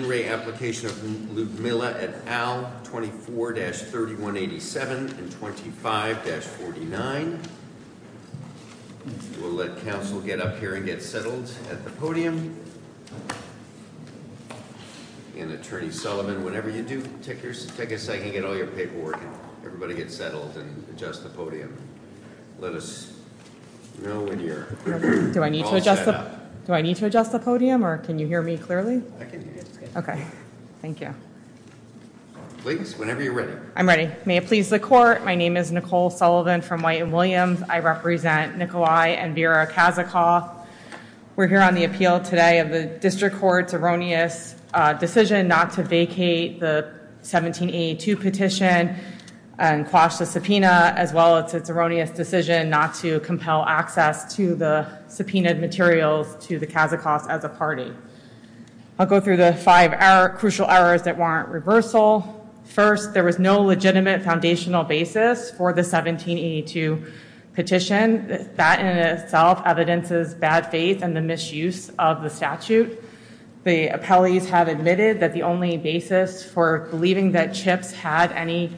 In Re. Application of Loudmila at AL 24-3187 and 25-49. We'll let counsel get up here and get settled at the podium. And Attorney Sullivan, whatever you do, take a second, get all your paperwork and everybody get settled and adjust the podium. Let us know when you're all set up. Do I need to adjust the podium or can you hear me clearly? I can hear you. Okay, thank you. Please, whenever you're ready. I'm ready. May it please the court, my name is Nicole Sullivan from White and Williams. I represent Nikolai and Vera Kazikoff. We're here on the appeal today of the district court's erroneous decision not to vacate the 1782 petition and quash the subpoena, as well as its erroneous decision not to compel access to the subpoenaed materials to the Kazikoffs as a party. I'll go through the five crucial errors that warrant reversal. First, there was no legitimate foundational basis for the 1782 petition. That in itself evidences bad faith and the misuse of the statute. The appellees have admitted that the only basis for believing that Chips had any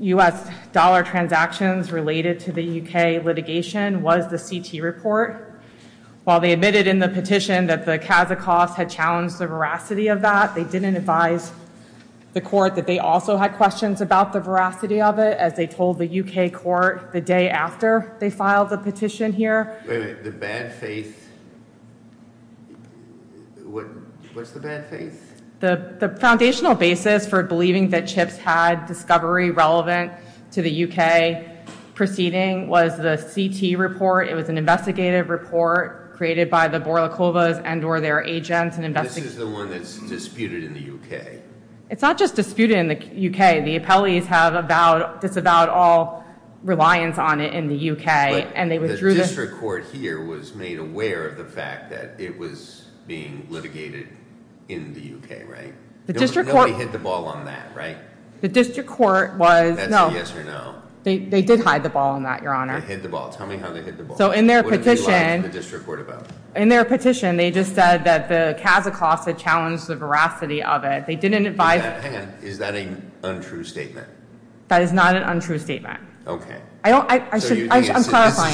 U.S. dollar transactions related to the U.K. litigation was the CT report. While they admitted in the petition that the Kazikoffs had challenged the veracity of that, they didn't advise the court that they also had questions about the veracity of it, as they told the U.K. court the day after they filed the petition here. Wait a minute. The bad faith, what's the bad faith? The foundational basis for believing that Chips had discovery relevant to the U.K. proceeding was the CT report. It was an investigative report created by the Borlakovas and or their agents. This is the one that's disputed in the U.K.? It's not just disputed in the U.K. The appellees have disavowed all reliance on it in the U.K. The district court here was made aware of the fact that it was being litigated in the U.K., right? The district court- Nobody hit the ball on that, right? The district court was- That's a yes or no. They did hide the ball on that, Your Honor. They hid the ball. Tell me how they hid the ball. What did they lie to the district court about? In their petition, they just said that the Kazakoffs had challenged the veracity of it. They didn't advise- Hang on. Is that an untrue statement? That is not an untrue statement. Okay. I'm clarifying. So you think this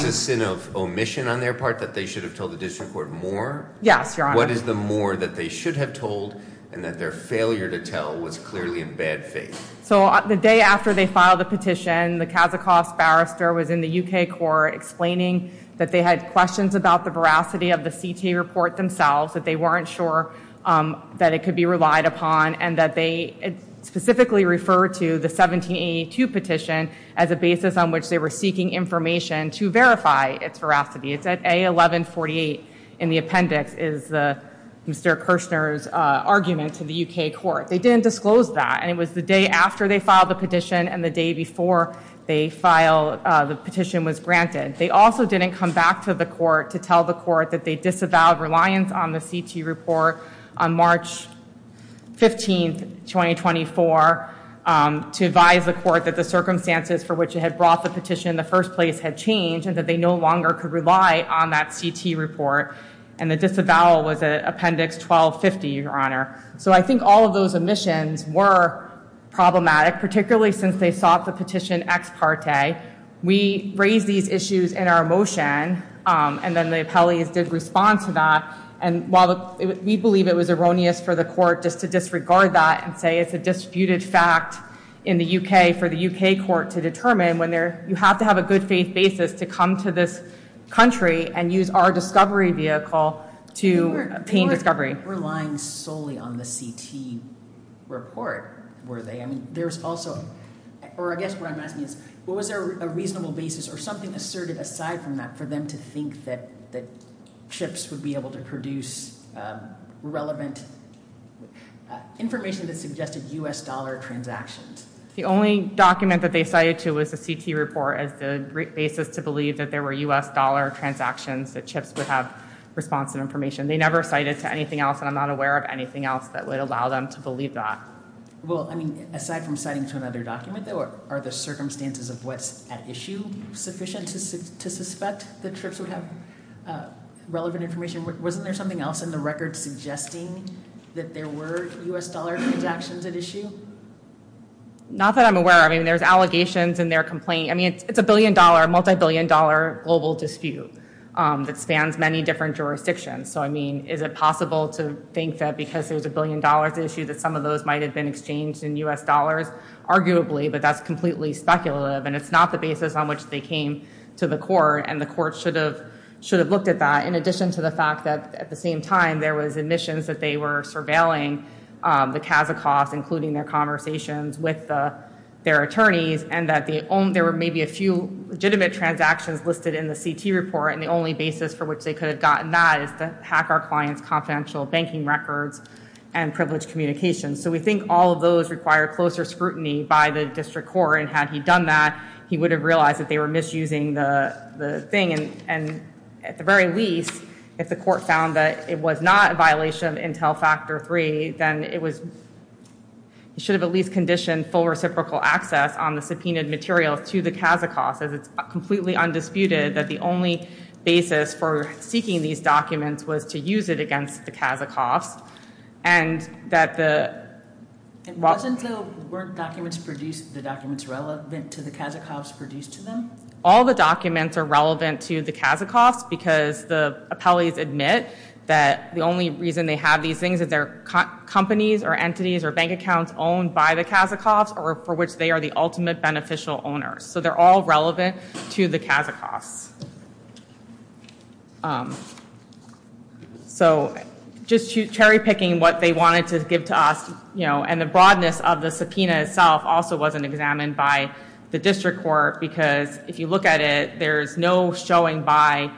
is a sin of omission on their part that they should have told the district court more? Yes, Your Honor. What is the more that they should have told and that their failure to tell was clearly in bad faith? So the day after they filed the petition, the Kazakoffs barrister was in the U.K. court explaining that they had questions about the veracity of the CT report themselves, that they weren't sure that it could be relied upon, and that they specifically referred to the 1782 petition as a basis on which they were seeking information to verify its veracity. It's at A1148 in the appendix is Mr. Kirshner's argument to the U.K. court. They didn't disclose that, and it was the day after they filed the petition and the day before the petition was granted. They also didn't come back to the court to tell the court that they disavowed reliance on the CT report on March 15, 2024, to advise the court that the circumstances for which it had brought the petition in the first place had changed and that they no longer could rely on that CT report. And the disavowal was at appendix 1250, Your Honor. So I think all of those omissions were problematic, particularly since they sought the petition ex parte. We raised these issues in our motion, and then the appellees did respond to that. And while we believe it was erroneous for the court just to disregard that and say it's a disputed fact in the U.K. for the U.K. court to determine, you have to have a good faith basis to come to this country and use our discovery vehicle to obtain discovery. They weren't relying solely on the CT report, were they? I mean, there's also, or I guess what I'm asking is, was there a reasonable basis or something asserted aside from that for them to think that CHIPS would be able to produce relevant information that suggested U.S. dollar transactions? The only document that they cited to was the CT report as the basis to believe that there were U.S. dollar transactions, that CHIPS would have responsive information. They never cited to anything else, and I'm not aware of anything else that would allow them to believe that. Well, I mean, aside from citing to another document, though, are the circumstances of what's at issue sufficient to suspect that CHIPS would have relevant information? Wasn't there something else in the record suggesting that there were U.S. dollar transactions at issue? Not that I'm aware of. I mean, there's allegations, and there are complaints. I mean, it's a billion-dollar, multi-billion-dollar global dispute that spans many different jurisdictions. So, I mean, is it possible to think that because there's a billion-dollar issue that some of those might have been exchanged in U.S. dollars? Arguably, but that's completely speculative, and it's not the basis on which they came to the court, and the court should have looked at that, in addition to the fact that, at the same time, there was admissions that they were surveilling the Kazakoffs, including their conversations with their attorneys, and that there were maybe a few legitimate transactions listed in the CT report, and the only basis for which they could have gotten that is to hack our client's confidential banking records and privileged communications. So we think all of those require closer scrutiny by the district court, and had he done that, he would have realized that they were misusing the thing. And at the very least, if the court found that it was not a violation of Intel Factor 3, then it should have at least conditioned full reciprocal access on the subpoenaed materials to the Kazakoffs, as it's completely undisputed that the only basis for seeking these documents was to use it against the Kazakoffs. And that the... It wasn't, though, weren't documents produced, the documents relevant to the Kazakoffs produced to them? All the documents are relevant to the Kazakoffs because the appellees admit that the only reason they have these things is they're companies or entities or bank accounts owned by the Kazakoffs, or for which they are the ultimate beneficial owners. So they're all relevant to the Kazakoffs. So just cherry-picking what they wanted to give to us, you know, and the broadness of the subpoena itself also wasn't examined by the district court, because if you look at it, there's no showing by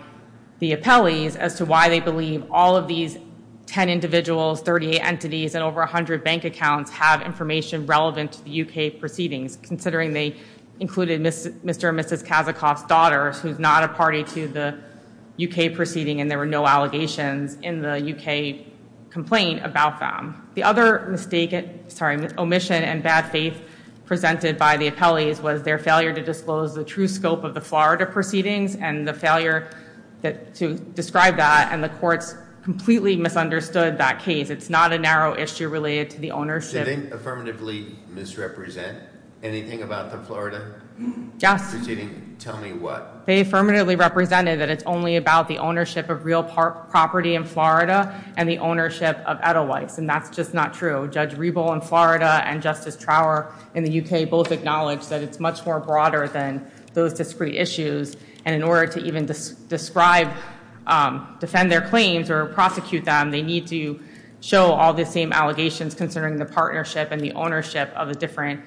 the appellees as to why they believe all of these 10 individuals, 38 entities, and over 100 bank accounts have information relevant to the UK proceedings, considering they included Mr. and Mrs. Kazakoffs' daughters, who's not a party to the UK proceeding, and there were no allegations in the UK complaint about them. The other mistake, sorry, omission and bad faith presented by the appellees was their failure to disclose the true scope of the Florida proceedings and the failure to describe that, and the courts completely misunderstood that case. It's not a narrow issue related to the ownership- Did they affirmatively misrepresent anything about the Florida? Yes. Tell me what? They affirmatively represented that it's only about the ownership of real property in Florida and the ownership of Edelweiss, and that's just not true. Judge Riebel in Florida and Justice Trower in the UK both acknowledged that it's much more broader than those discrete issues, and in order to even describe, defend their claims or prosecute them, they need to show all the same allegations considering the partnership and the ownership of the different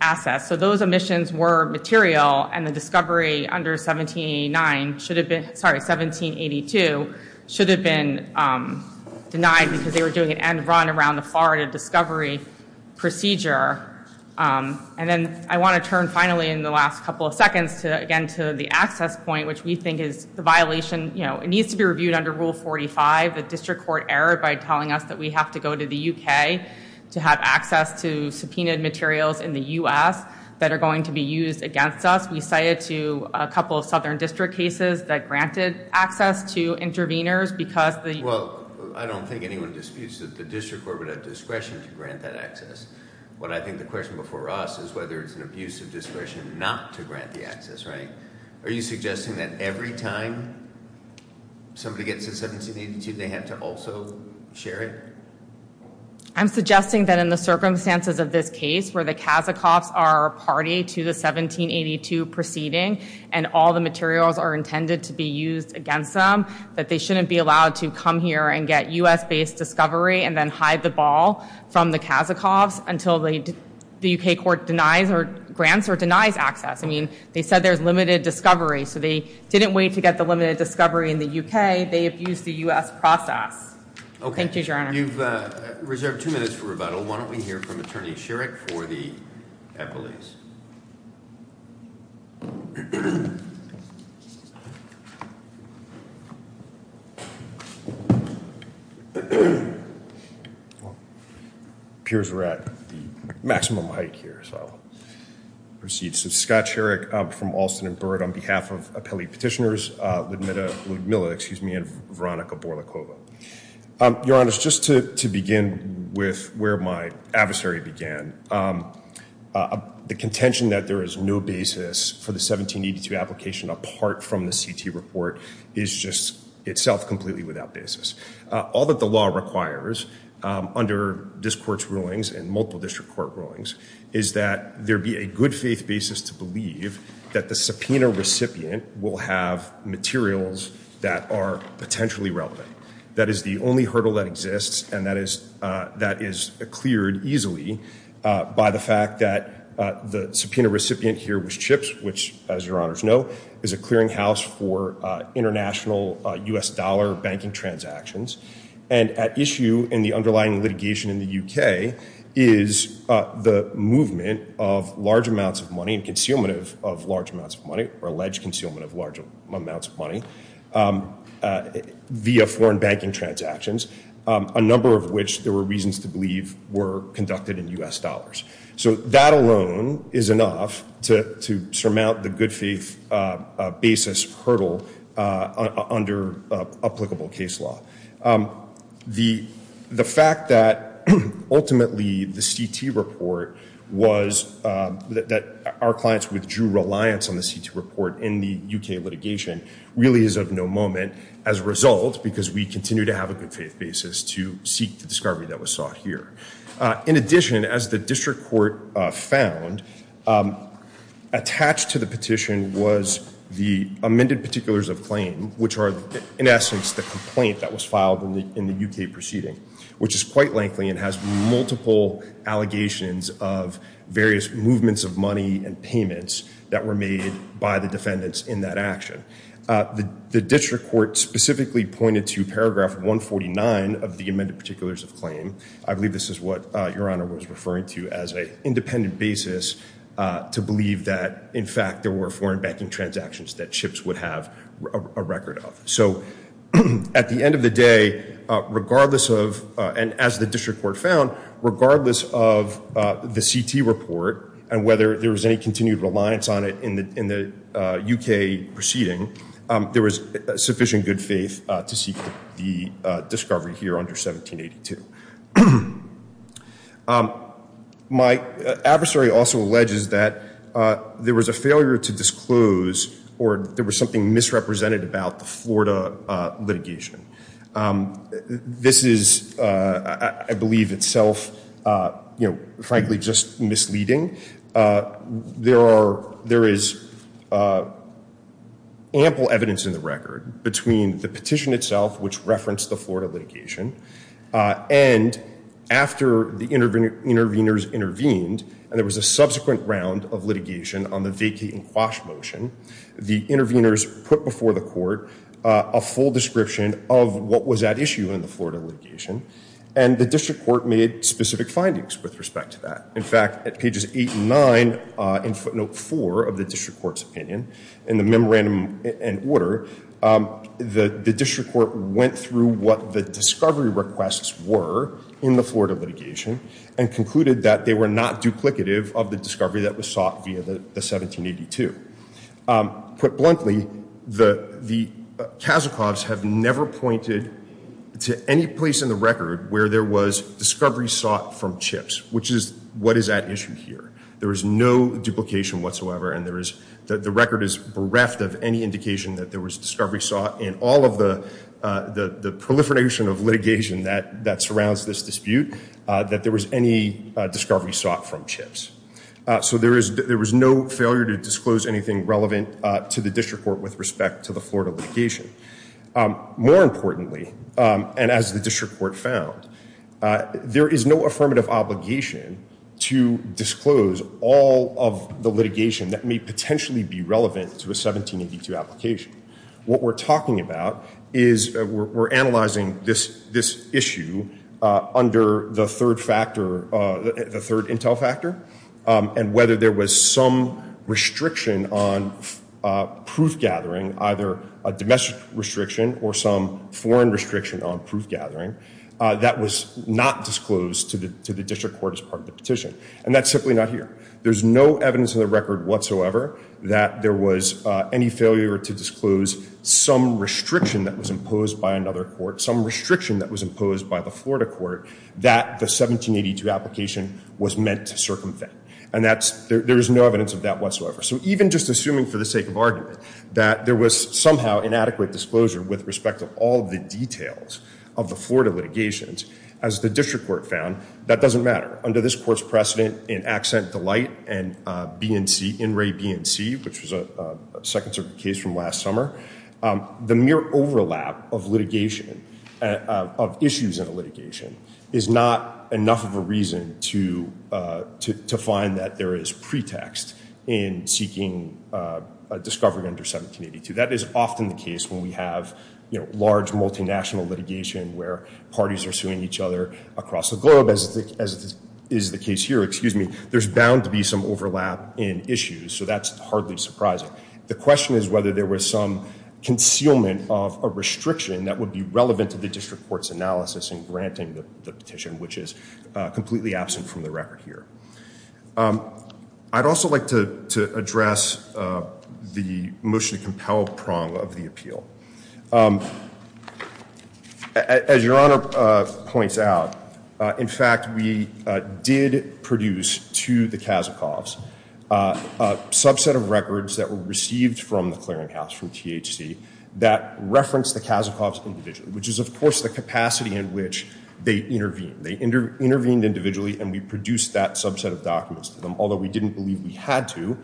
assets. So those omissions were material, and the discovery under 1782 should have been denied because they were doing an end run around the Florida discovery procedure. And then I want to turn, finally, in the last couple of seconds, again, to the access point, which we think is the violation. It needs to be reviewed under Rule 45. The district court errored by telling us that we have to go to the UK to have access to subpoenaed materials in the US that are going to be used against us. We cited to a couple of southern district cases that granted access to interveners because the- Well, I don't think anyone disputes that the district court would have discretion to grant that access. What I think the question before us is whether it's an abuse of discretion not to grant the access, right? Are you suggesting that every time somebody gets to 1782, they have to also share it? I'm suggesting that in the circumstances of this case, where the Kasikovs are party to the 1782 proceeding and all the materials are intended to be used against them, that they shouldn't be allowed to come here and get US-based discovery and then hide the ball from the Kasikovs until the UK court denies or grants or denies access. I mean, they said there's limited discovery, so they didn't wait to get the limited discovery in the UK. They abused the US process. Okay. Thank you, Your Honor. You've reserved two minutes for rebuttal. Why don't we hear from Attorney Sherrick for the appellees? Well, it appears we're at the maximum height here, so I'll proceed. So Scott Sherrick from Alston and Byrd on behalf of appellee petitioners, Ludmilla and Veronica Borlakova. Your Honor, just to begin with where my adversary began, the contention that there is no basis for the 1782 application apart from the CT report is just itself completely without basis. All that the law requires under this court's rulings and multiple district court rulings is that there be a good faith basis to believe that the subpoena recipient will have materials that are potentially relevant. That is the only hurdle that exists, and that is cleared easily by the fact that the subpoena recipient here was CHIPS, which, as Your Honors know, is a clearinghouse for international US dollar banking transactions. And at issue in the underlying litigation in the UK is the movement of large amounts of money and concealment of large amounts of money or alleged concealment of large amounts of money via foreign banking transactions, a number of which there were reasons to believe were conducted in US dollars. So that alone is enough to surmount the good faith basis hurdle under applicable case law. The fact that ultimately the CT report was, that our clients withdrew reliance on the CT report in the UK litigation really is of no moment as a result because we continue to have a good faith basis to seek the discovery that was sought here. In addition, as the district court found, attached to the petition was the amended particulars of claim, which are in essence the complaint that was filed in the UK proceeding, which is quite likely and has multiple allegations of various movements of money and payments that were made by the defendants in that action. The district court specifically pointed to paragraph 149 of the amended particulars of claim. I believe this is what Your Honor was referring to as an independent basis to believe that, in fact, there were foreign banking transactions that Chips would have a record of. So at the end of the day, regardless of and as the district court found, regardless of the CT report and whether there was any continued reliance on it in the UK proceeding, there was sufficient good faith to seek the discovery here under 1782. My adversary also alleges that there was a failure to disclose or there was something misrepresented about the Florida litigation. This is, I believe, itself, you know, frankly, just misleading. There are there is ample evidence in the record between the petition itself, which referenced the Florida litigation and after the intervening interveners intervened. And there was a subsequent round of litigation on the vacating quash motion. The interveners put before the court a full description of what was at issue in the Florida litigation. And the district court made specific findings with respect to that. In fact, at pages eight and nine in footnote four of the district court's opinion in the memorandum and order, the district court went through what the discovery requests were in the Florida litigation and concluded that they were not duplicative of the discovery that was sought via the 1782. Put bluntly, the Kasichovs have never pointed to any place in the record where there was discovery sought from chips, which is what is at issue here. There is no duplication whatsoever. And there is the record is bereft of any indication that there was discovery sought in all of the the proliferation of litigation that that surrounds this dispute, that there was any discovery sought from chips. So there is there was no failure to disclose anything relevant to the district court with respect to the Florida litigation. More importantly, and as the district court found, there is no affirmative obligation to disclose all of the litigation that may potentially be relevant to a 1782 application. What we're talking about is we're analyzing this issue under the third factor, the third intel factor, and whether there was some restriction on proof gathering, either a domestic restriction or some foreign restriction on proof gathering, that was not disclosed to the district court as part of the petition. And that's simply not here. There's no evidence in the record whatsoever that there was any failure to disclose some restriction that was imposed by another court, some restriction that was imposed by the Florida court that the 1782 application was meant to circumvent. And that's there is no evidence of that whatsoever. So even just assuming for the sake of argument that there was somehow inadequate disclosure with respect to all the details of the Florida litigations, as the district court found, that doesn't matter. Under this court's precedent in Accent Delight and BNC, In Re BNC, which was a second case from last summer, the mere overlap of litigation of issues in a litigation is not enough of a reason to find that there is pretext in seeking a discovery under 1782. That is often the case when we have large multinational litigation where parties are suing each other across the globe, as is the case here, excuse me, there's bound to be some overlap in issues. So that's hardly surprising. The question is whether there was some concealment of a restriction that would be relevant to the district court's analysis in granting the petition, which is completely absent from the record here. I'd also like to address the motion to compel prong of the appeal. As Your Honor points out, in fact, we did produce to the Kazakov's a subset of records that were received from the clearinghouse, from THC, that referenced the Kazakov's individually, which is, of course, the capacity in which they intervene. They intervened individually, and we produced that subset of documents to them. Although we didn't believe we had to,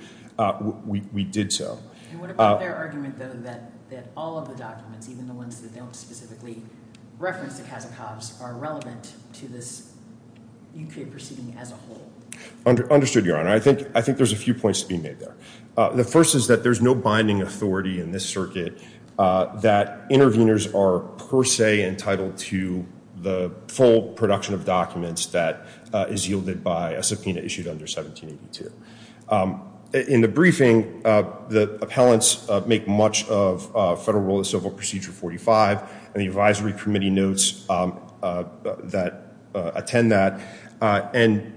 we did so. And what about their argument, though, that all of the documents, even the ones that don't specifically reference the Kazakov's, are relevant to this UK proceeding as a whole? Understood, Your Honor. I think there's a few points to be made there. The first is that there's no binding authority in this circuit that interveners are per se entitled to the full production of documents that is yielded by a subpoena issued under 1782. In the briefing, the appellants make much of Federal Rule of Civil Procedure 45, and the advisory committee notes that attend that. And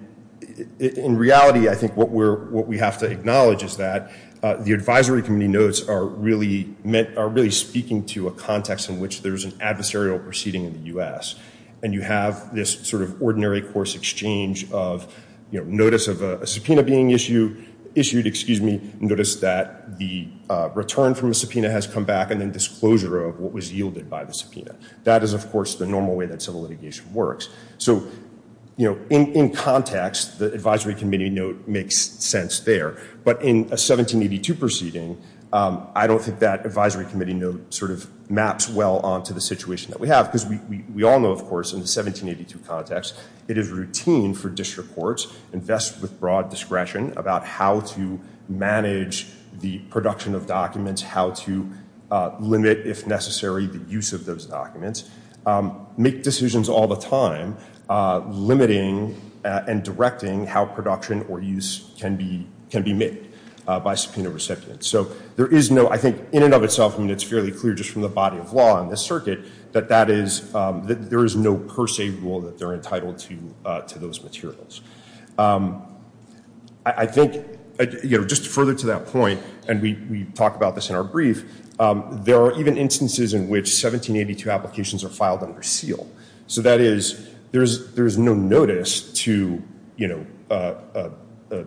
in reality, I think what we have to acknowledge is that the advisory committee notes are really speaking to a context in which there's an adversarial proceeding in the U.S., and you have this sort of ordinary course exchange of notice of a subpoena being issued, notice that the return from a subpoena has come back, and then disclosure of what was yielded by the subpoena. That is, of course, the normal way that civil litigation works. So, you know, in context, the advisory committee note makes sense there. But in a 1782 proceeding, I don't think that advisory committee note sort of maps well onto the situation that we have, because we all know, of course, in the 1782 context, it is routine for district courts to invest with broad discretion about how to manage the production of documents, how to limit, if necessary, the use of those documents, make decisions all the time, limiting and directing how production or use can be made by subpoena recipients. So there is no, I think, in and of itself, I mean, it's fairly clear just from the body of law in this circuit, that there is no per se rule that they're entitled to those materials. I think, you know, just further to that point, and we talked about this in our brief, there are even instances in which 1782 applications are filed under seal. So that is, there is no notice to, you know,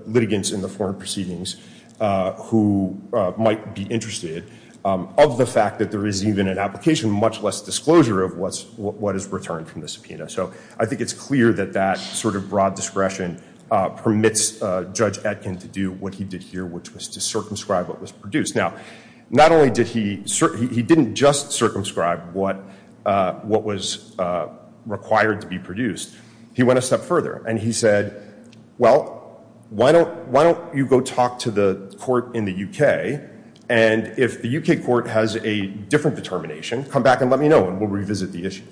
litigants in the foreign proceedings who might be interested of the fact that there is even an application, much less disclosure of what is returned from the subpoena. So I think it's clear that that sort of broad discretion permits Judge Etkin to do what he did here, which was to circumscribe what was produced. Now, not only did he, he didn't just circumscribe what was required to be produced. He went a step further and he said, well, why don't you go talk to the court in the UK and if the UK court has a different determination, come back and let me know and we'll revisit the issue,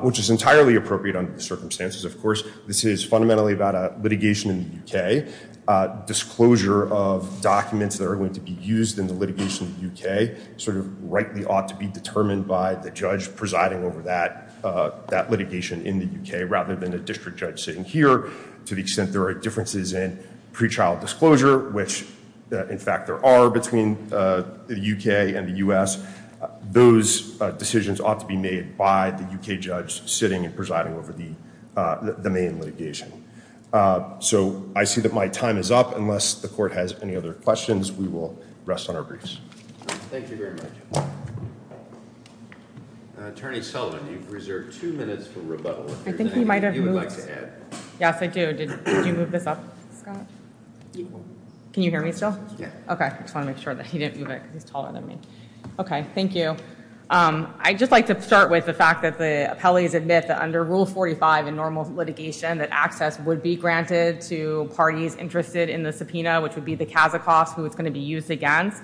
which is entirely appropriate under the circumstances. Of course, this is fundamentally about a litigation in the UK. Disclosure of documents that are going to be used in the litigation in the UK sort of rightly ought to be determined by the judge presiding over that litigation in the UK rather than a district judge sitting here to the extent there are differences in pre-trial disclosure, which in fact there are between the UK and the US. Those decisions ought to be made by the UK judge sitting and presiding over the main litigation. So I see that my time is up. Unless the court has any other questions, we will rest on our briefs. Thank you very much. Attorney Sullivan, you've reserved two minutes for rebuttal. I think he might have moved. Yes, I do. Did you move this up, Scott? Can you hear me still? Yeah. Okay. I just want to make sure that he didn't move it because he's taller than me. Okay. Thank you. I'd just like to start with the fact that the appellees admit that under Rule 45 in normal litigation that access would be granted to parties interested in the subpoena, which would be the Kazakoffs who it's going to be used against.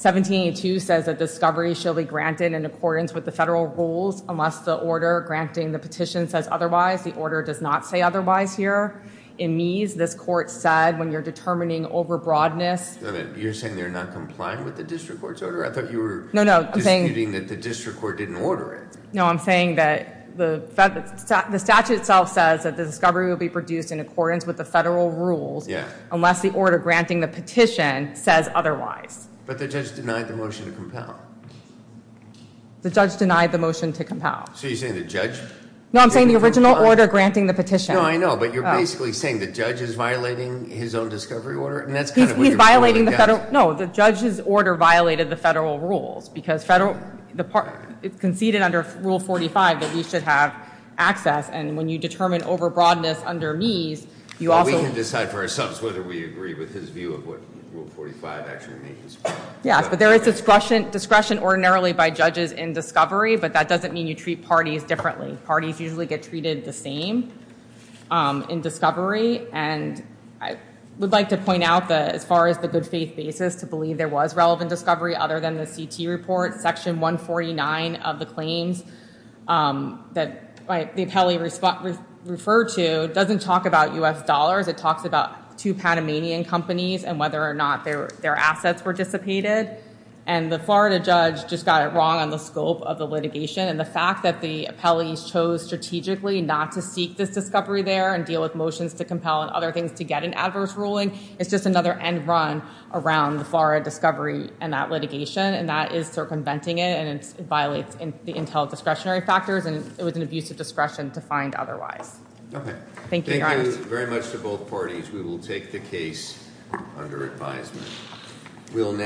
1782 says that discovery shall be granted in accordance with the federal rules unless the order granting the petition says otherwise. The order does not say otherwise here. In Meese, this court said when you're determining overbroadness. You're saying they're not complying with the district court's order? I thought you were disputing that the district court didn't order it. No, I'm saying that the statute itself says that the discovery will be produced in accordance with the federal rules unless the order granting the petition says otherwise. But the judge denied the motion to compel. The judge denied the motion to compel. So you're saying the judge? No, I'm saying the original order granting the petition. No, I know, but you're basically saying the judge is violating his own discovery order? He's violating the federal, no, the judge's order violated the federal rules because it conceded under Rule 45 that we should have access and when you determine overbroadness under Meese, you also... We can decide for ourselves whether we agree with his view of what Rule 45 actually means. Yes, but there is discretion ordinarily by judges in discovery, but that doesn't mean you treat parties differently. Parties usually get treated the same in discovery and I would like to point out that as far as the good faith basis to believe there was relevant discovery other than the CT report, Section 149 of the claims that the appellee referred to doesn't talk about U.S. dollars. It talks about two Panamanian companies and whether or not their assets were dissipated and the Florida judge just got it wrong on the scope of the litigation and the fact that the appellees chose strategically not to seek this discovery there and deal with motions to compel and other things to get an adverse ruling is just another end run around the Florida discovery and that litigation and that is circumventing it and it violates the intel discretionary factors and it was an abuse of discretion to find otherwise. Okay. Thank you very much to both parties. We will take the case under advisement.